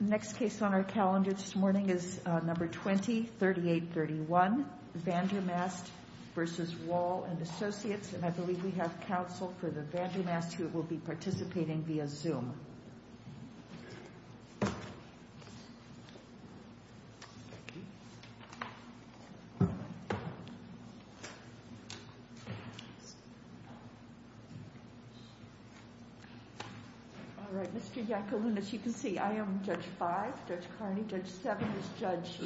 Next case on our calendar this morning is number 203831, Vandermast v. Wall & Associates, and I believe we have counsel for the Vandermast who will be participating via Zoom. All right, Mr. Yacoulin, as you can see, I am Judge 5, Judge Carney, Judge 7 is Judge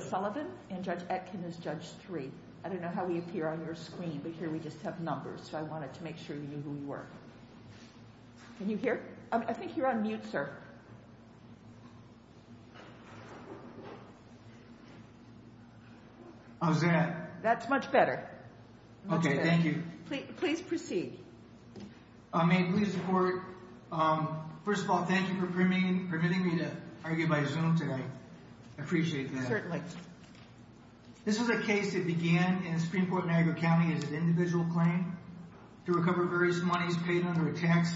Sullivan, and Judge Etkin is Judge 3. I don't know how we appear on your screen, but here we just have numbers, so I wanted to make sure you knew who we were. Can you hear? I think you're on mute, sir. How's that? That's much better. Much better. Okay, thank you. Please proceed. May it please the Court, first of all, thank you for permitting me to argue by Zoom today. I appreciate that. Certainly. This was a case that began in Springport, Niagara County as an individual claim to recover various monies paid under a tax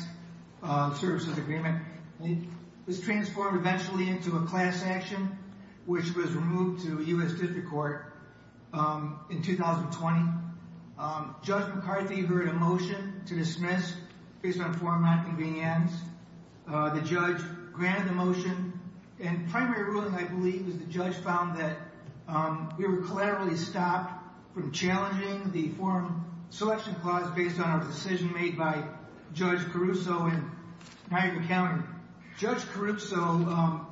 services agreement. It was transformed eventually into a class action, which was removed to U.S. District Court in 2020. Judge McCarthy heard a motion to dismiss based on a form of nonconvenience. The judge granted the motion, and primary ruling, I believe, was the judge found that we were clearly stopped from challenging the forum selection clause based on our decision made by Judge Caruso in Niagara County. Judge Caruso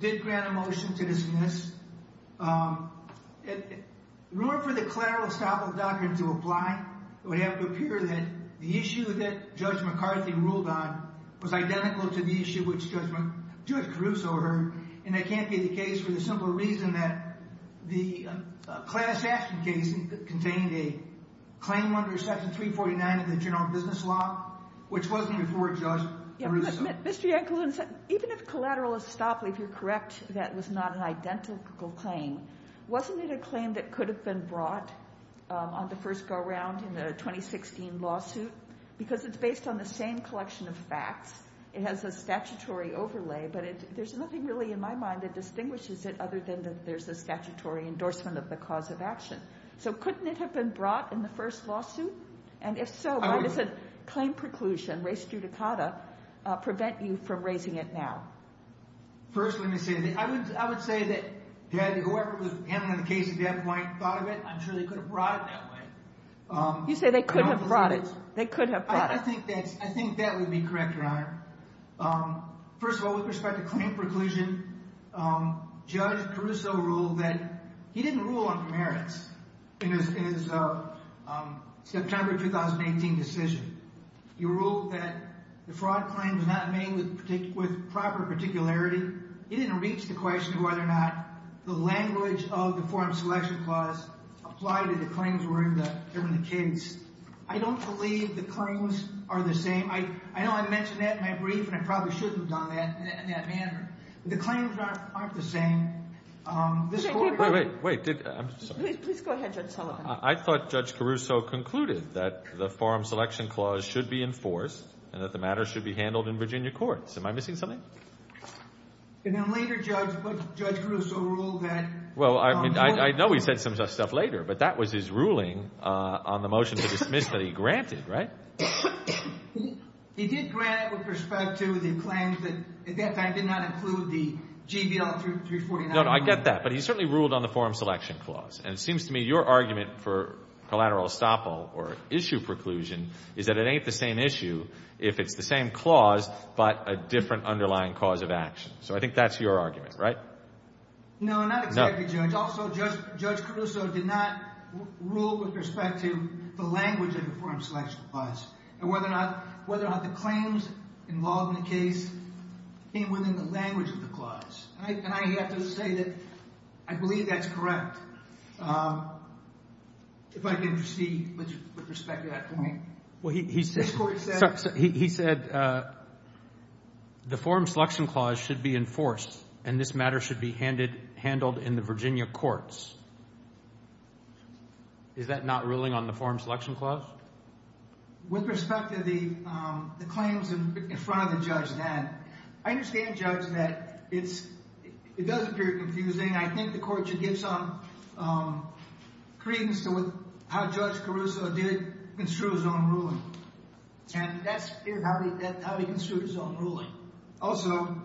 did grant a motion to dismiss. In order for the clerical estoppel doctrine to apply, it would have to appear that the issue that Judge McCarthy ruled on was identical to the issue which Judge Caruso heard, and it can't be the case for the simple reason that the class action case contained a claim under Section 349 of the General Business Law, which wasn't even for Judge Caruso. Mr. Yankel, even if collateral estoppel, if you're correct, that was not an identical claim, wasn't it a claim that could have been brought on the first go-round in the 2016 lawsuit? Because it's based on the same collection of facts, it has a statutory overlay, but there's nothing really in my mind that distinguishes it other than that there's a statutory endorsement of the cause of action. So couldn't it have been brought in the first lawsuit? And if so, why does a claim preclusion, res judicata, prevent you from raising it now? First, let me say, I would say that whoever was handling the case at that point thought of it, I'm sure they could have brought it that way. You say they could have brought it. I think that would be correct, Your Honor. First of all, with respect to claim preclusion, Judge Caruso ruled that he didn't rule on commerce in his September 2018 decision. He ruled that the fraud claim was not made with proper particularity. He didn't reach the question of whether or not the language of the Foreign Selection Clause applied to the claims during the case. I don't believe the claims are the same. I know I mentioned that in my brief, and I probably shouldn't have done that in that manner. The claims aren't the same. Wait, wait. Please go ahead, Judge Sullivan. I thought Judge Caruso concluded that the Foreign Selection Clause should be enforced and that the matter should be handled in Virginia courts. Am I missing something? And then later, Judge Caruso ruled that... Well, I know he said some stuff later, but that was his ruling on the motion to dismiss that he granted, right? He did grant it with respect to the claims that, in fact, did not include the GBL 349. No, no, I get that. But he certainly ruled on the Foreign Selection Clause. And it seems to me your argument for collateral estoppel or issue preclusion is that it ain't the same issue if it's the same clause but a different underlying cause of action. So I think that's your argument, right? No, not exactly, Judge. Also, Judge Caruso did not rule with respect to the language of the Foreign Selection Clause and whether or not the claims involved in the case came within the language of the clause. And I have to say that I believe that's correct, if I can proceed with respect to that point. This Court said... He said the Foreign Selection Clause should be enforced and this matter should be handled in the Virginia courts. Is that not ruling on the Foreign Selection Clause? With respect to the claims in front of the judge then, I understand, Judge, that it does appear confusing. I think the Court should give some credence to how Judge Caruso did construe his own ruling. And that's how he construed his own ruling. Also,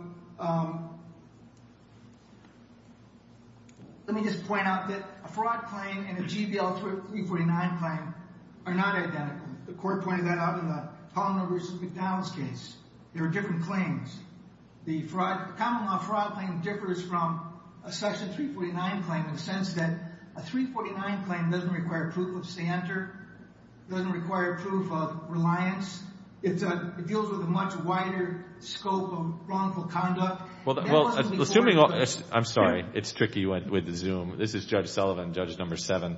let me just point out that a fraud claim and a GBL 349 claim are not identical. The Court pointed that out in the Pollan versus McDonald's case. They're different claims. The common law fraud claim differs from a Section 349 claim in the sense that a 349 claim doesn't require proof of standard, doesn't require proof of reliance. It deals with a much wider scope of wrongful conduct. Well, assuming... I'm sorry. It's tricky with the Zoom. This is Judge Sullivan, Judge number seven.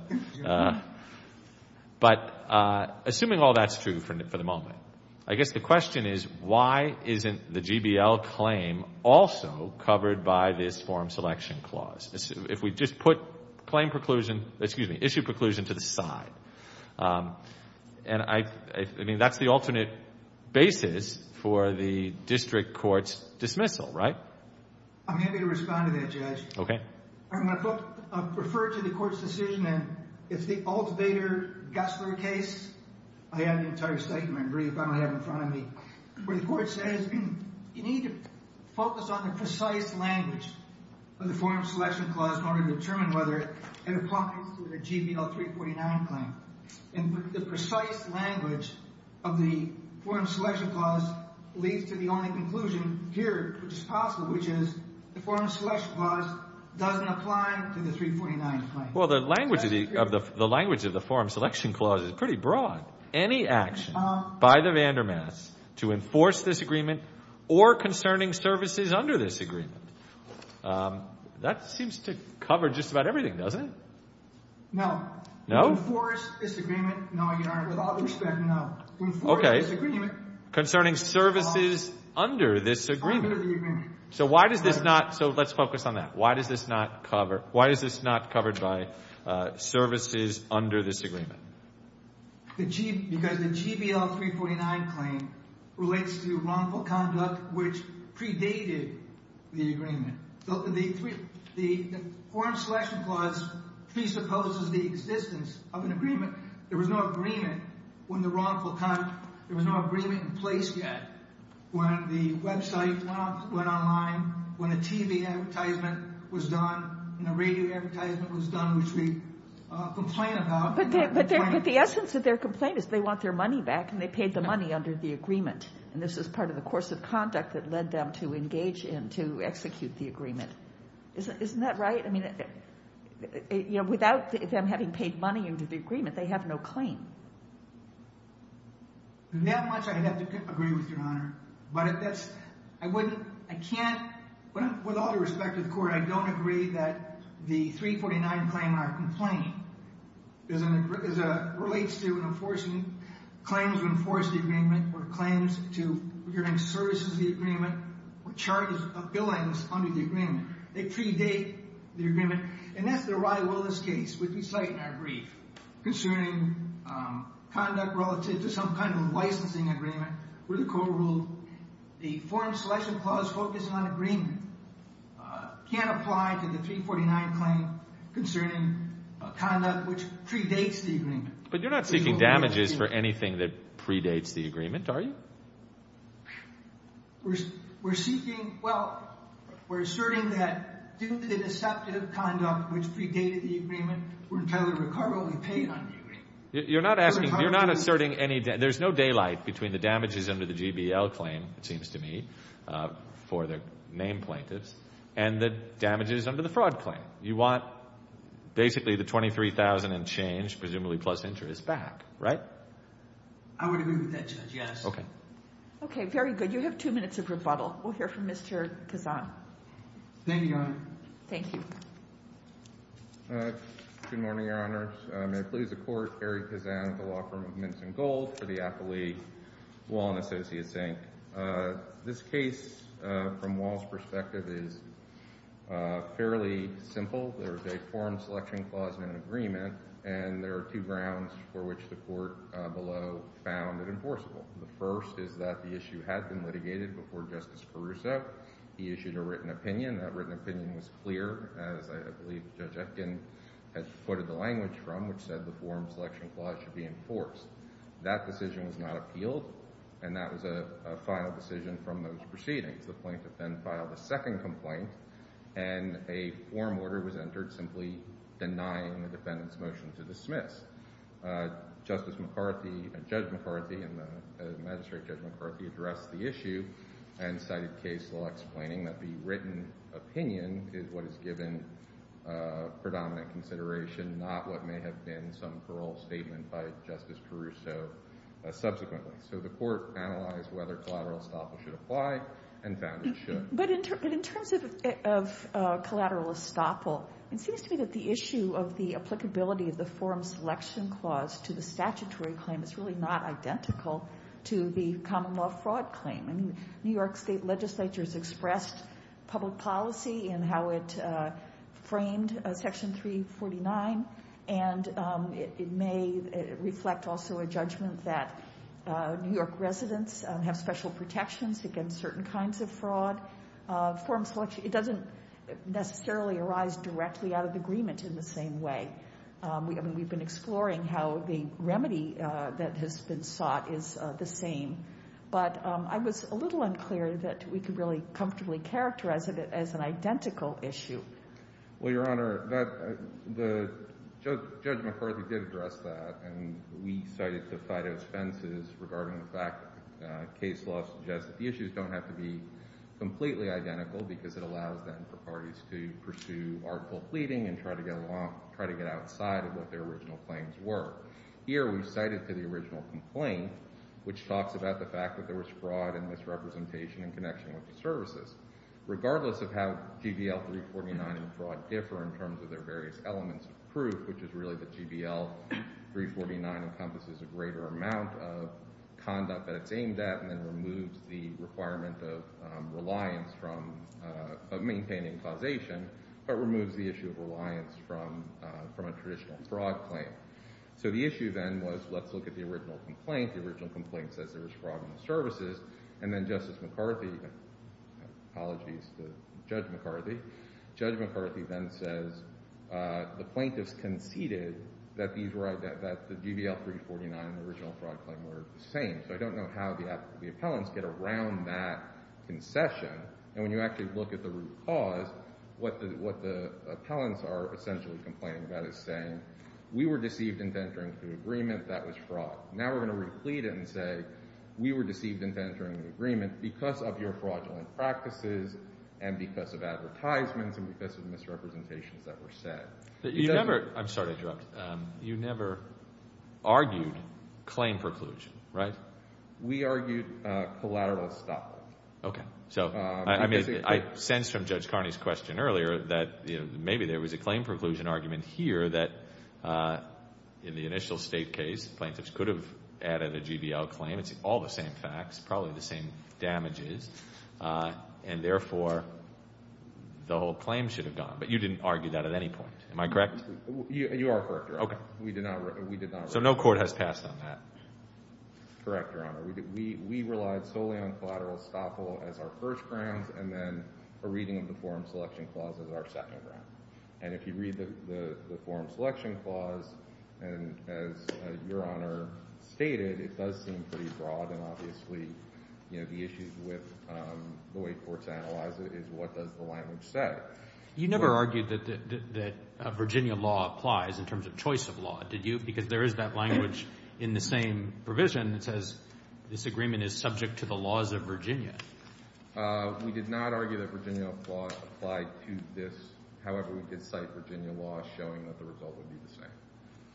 But assuming all that's true for the moment, I guess the question is why isn't the GBL claim also covered by this Foreign Selection Clause? If we just put claim preclusion, excuse me, issue preclusion to the side. And I mean, that's the alternate basis for the District Court's dismissal, right? I'm happy to respond to that, Judge. Okay. I'm going to refer to the Court's decision, and it's the Alt-Bader-Gessler case. I have the entire statement, really, if I don't have it in front of me. Where the Court says you need to focus on the precise language of the Foreign Selection Clause in order to determine whether it applies to the GBL 349 claim. And the precise language of the Foreign Selection Clause leads to the only conclusion here, which is possible, which is the Foreign Selection Clause doesn't apply to the 349 claim. Well, the language of the Foreign Selection Clause is pretty broad. Any action by the Vandermats to enforce this agreement or concerning services under this agreement, that seems to cover just about everything, doesn't it? No. No? To enforce this agreement. No, Your Honor. With all due respect, no. To enforce this agreement. Okay. Concerning services under this agreement. Under the agreement. So why does this not—so let's focus on that. Why does this not cover—why is this not covered by services under this agreement? Because the GBL 349 claim relates to wrongful conduct which predated the agreement. The Foreign Selection Clause presupposes the existence of an agreement. There was no agreement when the wrongful conduct—there was no agreement in place yet when the website went online, when the TV advertisement was done, when the radio advertisement was done, which we complain about. But the essence of their complaint is they want their money back, and they paid the money under the agreement. And this is part of the course of conduct that led them to engage in, to execute the agreement. Isn't that right? I mean, without them having paid money under the agreement, they have no claim. That much I'd have to agree with, Your Honor. But that's—I wouldn't—I can't—with all due respect to the Court, I don't agree that the 349 claim, our complaint, relates to an enforcement—claims to enforce the agreement or claims to provide services to the agreement or charges of billings under the agreement. They predate the agreement. And that's the Riley-Willis case, which we cite in our brief, concerning conduct relative to some kind of licensing agreement where the court ruled the Foreign Selection Clause focused on agreement can't apply to the 349 claim concerning conduct which predates the agreement. But you're not seeking damages for anything that predates the agreement, are you? We're seeking—well, we're asserting that due to the deceptive conduct which predated the agreement, we're entirely recoverably paid under the agreement. You're not asking—you're not asserting any— there's no daylight between the damages under the GBL claim, it seems to me, for the named plaintiffs, and the damages under the fraud claim. You want basically the $23,000 and change, presumably plus interest, back, right? I would agree with that, Judge, yes. Okay. Okay, very good. You have two minutes of rebuttal. We'll hear from Mr. Kazan. Thank you, Your Honor. Thank you. Good morning, Your Honors. May it please the Court, Harry Kazan with the Law Firm of Minson Gold for the Appleby Law and Associates, Inc. This case, from Wall's perspective, is fairly simple. There is a forum selection clause in an agreement, and there are two grounds for which the Court below found it enforceable. The first is that the issue had been litigated before Justice Caruso. He issued a written opinion. That written opinion was clear, as I believe Judge Etkin has quoted the language from, which said the forum selection clause should be enforced. That decision was not appealed, and that was a final decision from those proceedings. The plaintiff then filed a second complaint, and a forum order was entered simply denying the defendant's motion to dismiss. Justice McCarthy and Judge McCarthy and Magistrate Judge McCarthy addressed the issue and cited case law explaining that the written opinion is what is given predominant consideration, not what may have been some parole statement by Justice Caruso subsequently. So the Court analyzed whether collateral estoppel should apply and found it should. But in terms of collateral estoppel, it seems to me that the issue of the applicability of the forum selection clause to the statutory claim is really not identical to the common law fraud claim. I mean, New York state legislatures expressed public policy in how it framed Section 349, and it may reflect also a judgment that New York residents have special protections against certain kinds of fraud. Forum selection, it doesn't necessarily arise directly out of agreement in the same way. I mean, we've been exploring how the remedy that has been sought is the same. But I was a little unclear that we could really comfortably characterize it as an identical issue. Well, Your Honor, Judge McCarthy did address that, and we cited the FIDO's offenses regarding the fact that case law suggests that the issues don't have to be completely identical because it allows then for parties to pursue article pleading and try to get along, try to get outside of what their original claims were. Here we cited to the original complaint, which talks about the fact that there was fraud and misrepresentation in connection with the services. Regardless of how GBL 349 and fraud differ in terms of their various elements of proof, which is really that GBL 349 encompasses a greater amount of conduct that it's aimed at and then removes the requirement of reliance from maintaining causation, but removes the issue of reliance from a traditional fraud claim. So the issue then was let's look at the original complaint. The original complaint says there was fraud in the services. And then Justice McCarthy—apologies to Judge McCarthy— Judge McCarthy then says the plaintiffs conceded that the GBL 349 and the original fraud claim were the same. So I don't know how the appellants get around that concession. And when you actually look at the root cause, what the appellants are essentially complaining about is saying we were deceived into entering the agreement that was fraud. Now we're going to replete it and say we were deceived into entering the agreement because of your fraudulent practices and because of advertisements and because of misrepresentations that were said. You never—I'm sorry to interrupt. You never argued claim preclusion, right? We argued collateral stoppage. Okay. So I sense from Judge Carney's question earlier that maybe there was a claim preclusion argument here that in the initial State case, plaintiffs could have added a GBL claim. It's all the same facts, probably the same damages, and therefore the whole claim should have gone. But you didn't argue that at any point. Am I correct? You are correct, Your Honor. Okay. We did not— So no court has passed on that. Correct, Your Honor. We relied solely on collateral estoppel as our first grounds and then a reading of the Forum Selection Clause as our second ground. And if you read the Forum Selection Clause, and as Your Honor stated, it does seem pretty broad and obviously, you know, the issues with the way courts analyze it is what does the language say. You never argued that Virginia law applies in terms of choice of law, did you? Because there is that language in the same provision that says this agreement is subject to the laws of Virginia. We did not argue that Virginia law applied to this. However, we did cite Virginia law showing that the result would be the same.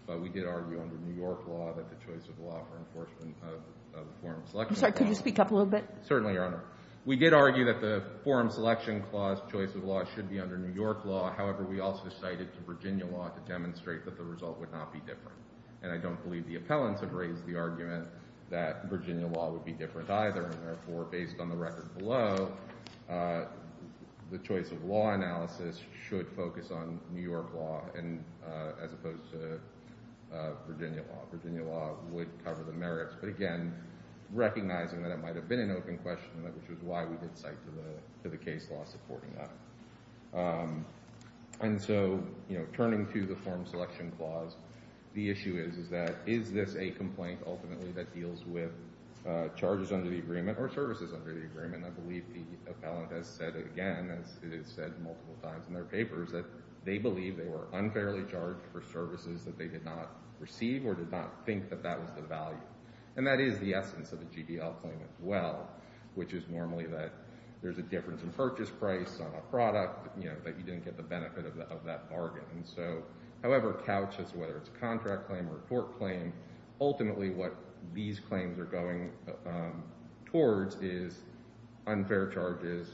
But we did argue under New York law that the choice of law for enforcement of the Forum Selection Clause— I'm sorry. Could you speak up a little bit? Certainly, Your Honor. We did argue that the Forum Selection Clause choice of law should be under New York law. However, we also cited Virginia law to demonstrate that the result would not be different. And I don't believe the appellants have raised the argument that Virginia law would be different either, and therefore, based on the record below, the choice of law analysis should focus on New York law as opposed to Virginia law. Virginia law would cover the merits. But again, recognizing that it might have been an open question, which is why we did cite to the case law supporting that. And so, you know, turning to the Forum Selection Clause, the issue is, is that is this a complaint ultimately that deals with charges under the agreement or services under the agreement? I believe the appellant has said it again, as it is said multiple times in their papers, that they believe they were unfairly charged for services that they did not receive or did not think that that was the value. And that is the essence of a GDL claim as well, which is normally that there's a difference in purchase price on a product, you know, that you didn't get the benefit of that bargain. So however couched, whether it's a contract claim or a court claim, ultimately what these claims are going towards is unfair charges,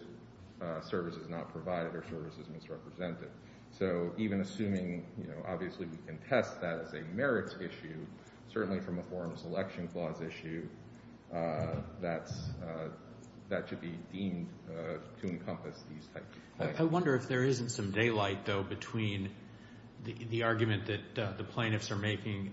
services not provided, or services misrepresented. So even assuming, you know, obviously we can test that as a merits issue, certainly from a Forum Selection Clause issue, that should be deemed to encompass these types of claims. I wonder if there isn't some daylight, though, between the argument that the plaintiffs are making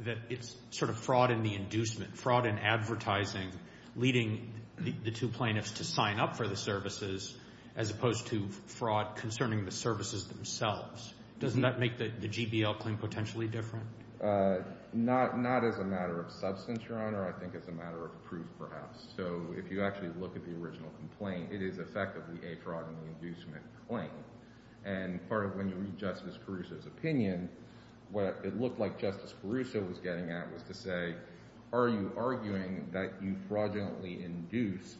that it's sort of fraud in the inducement, fraud in advertising, leading the two plaintiffs to sign up for the services as opposed to fraud concerning the services themselves. Doesn't that make the GDL claim potentially different? Not as a matter of substance, Your Honor. I think as a matter of proof, perhaps. So if you actually look at the original complaint, it is effectively a fraud in the inducement claim. And part of when you read Justice Caruso's opinion, what it looked like Justice Caruso was getting at was to say, are you arguing that you fraudulently induced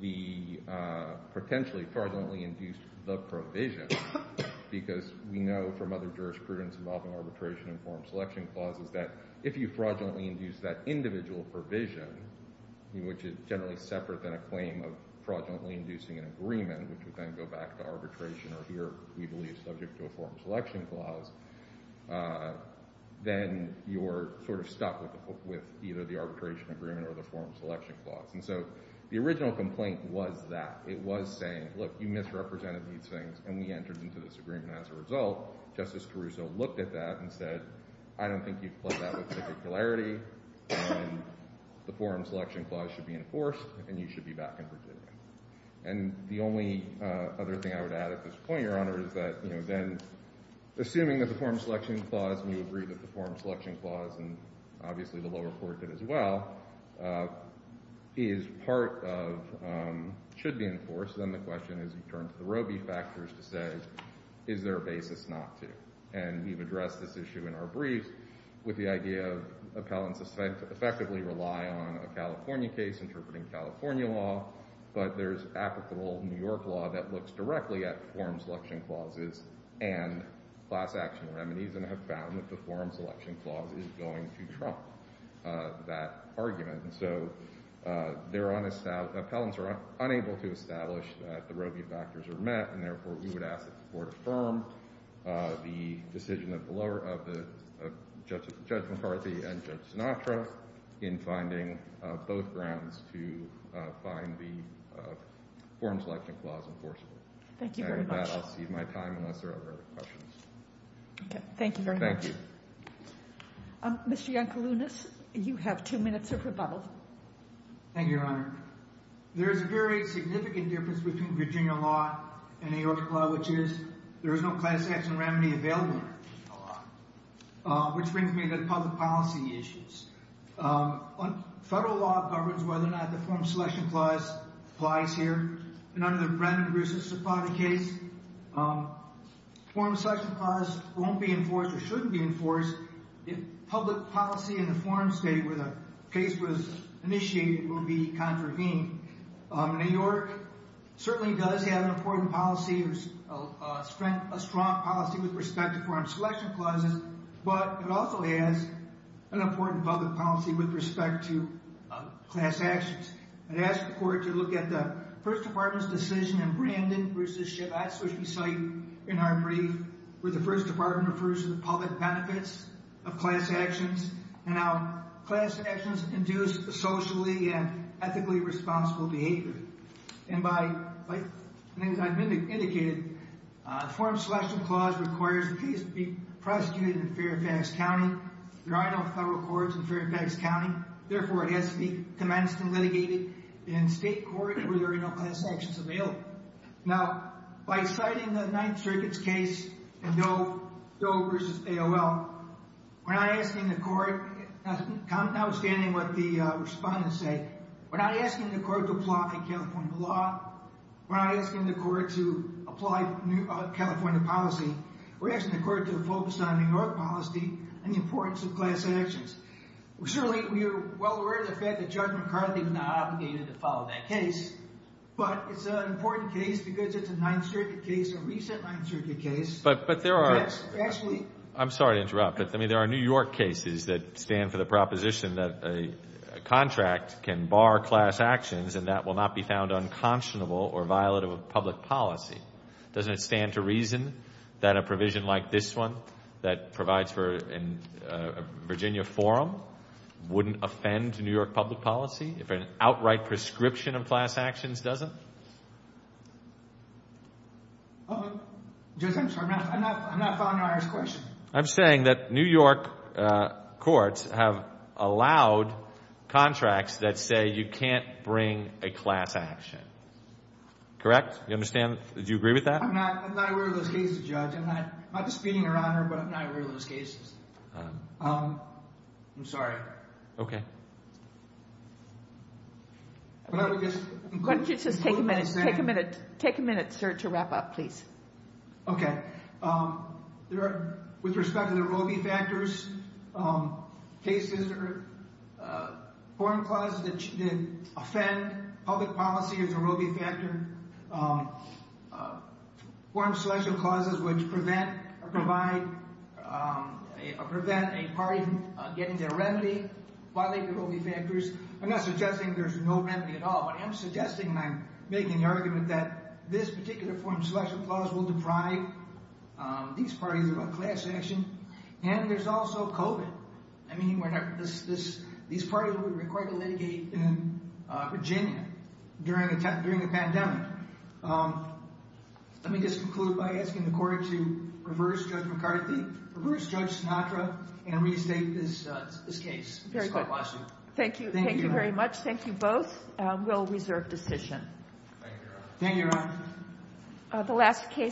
the—potentially fraudulently induced the provision? Because we know from other jurisprudence involving arbitration and Forum Selection Clauses that if you fraudulently induced that individual provision, which is generally separate than a claim of fraudulently inducing an agreement, which would then go back to arbitration or here, we believe, subject to a Forum Selection Clause, then you're sort of stuck with either the arbitration agreement or the Forum Selection Clause. And so the original complaint was that. It was saying, look, you misrepresented these things, and we entered into this agreement as a result. Justice Caruso looked at that and said, I don't think you've played that with particularity, and the Forum Selection Clause should be enforced, and you should be back in Virginia. And the only other thing I would add at this point, Your Honor, is that, you know, then assuming that the Forum Selection Clause, and you agree that the Forum Selection Clause, and obviously the lower court did as well, is part of—should be enforced, then the question is you turn to the Roby factors to say, is there a basis not to? And we've addressed this issue in our brief with the idea of appellants effectively rely on a California case, interpreting California law, but there's applicable New York law that looks directly at Forum Selection Clauses and class action remedies and have found that the Forum Selection Clause is going to trump that argument. And so there are—appellants are unable to establish that the Roby factors are met, and therefore we would ask that the Court affirm the decision of Judge McCarthy and Judge Sinatra in finding both grounds to find the Forum Selection Clause enforceable. Thank you very much. And with that, I'll cede my time unless there are other questions. Okay. Thank you very much. Thank you. Mr. Iancalunas, you have two minutes of rebuttal. Thank you, Your Honor. There is a very significant difference between Virginia law and New York law, which is there is no class action remedy available in Virginia law, which brings me to public policy issues. Federal law governs whether or not the Forum Selection Clause applies here, and under the Brennan-Grussis-Zapata case, the Forum Selection Clause won't be enforced or shouldn't be enforced if public policy in the forum state where the case was initiated will be contravened. New York certainly does have an important policy or a strong policy with respect to Forum Selection Clauses, but it also has an important public policy with respect to class actions. I'd ask the Court to look at the First Department's decision in Brandon-Grussis-Zapata, which we cite in our brief, where the First Department refers to the public benefits of class actions and how class actions induce socially and ethically responsible behavior. And as I've indicated, the Forum Selection Clause requires the case to be prosecuted in Fairfax County. There are no federal courts in Fairfax County. Therefore, it has to be commenced and litigated in state court where there are no class actions available. Now, by citing the Ninth Circuit's case in Doe v. AOL, we're not asking the Court, notwithstanding what the respondents say, we're not asking the Court to apply California law. We're not asking the Court to apply California policy. We're asking the Court to focus on New York policy and the importance of class actions. Certainly, we are well aware of the fact that Judge McCarthy was not obligated to follow that case, but it's an important case because it's a Ninth Circuit case, a recent Ninth Circuit case. But there are— Actually— I'm sorry to interrupt, but there are New York cases that stand for the proposition that a contract can bar class actions and that will not be found unconscionable or violative of public policy. Doesn't it stand to reason that a provision like this one that provides for a Virginia forum wouldn't offend New York public policy if an outright prescription of class actions doesn't? Judge, I'm sorry. I'm not following your question. I'm saying that New York courts have allowed contracts that say you can't bring a class action. Correct? Do you understand? Do you agree with that? I'm not aware of those cases, Judge. I'm not disputing or honoring, but I'm not aware of those cases. I'm sorry. Okay. Why don't you just take a minute, sir, to wrap up, please. Okay. With respect to the Roe v. Factors cases or forum clauses that offend public policy as a Roe v. Factor, forum selection clauses which prevent or provide or prevent a party from getting their remedy violate the Roe v. Factors. I'm not suggesting there's no remedy at all. I am suggesting, and I'm making the argument that this particular forum selection clause will deprive these parties of a class action. And there's also COVID. I mean, these parties would require to litigate in Virginia during the pandemic. Let me just conclude by asking the court to reverse Judge McCarthy, reverse Judge Sinatra, and restate this case. Very good. Thank you. Thank you very much. Thank you both. We'll reserve decision. Thank you, Your Honor.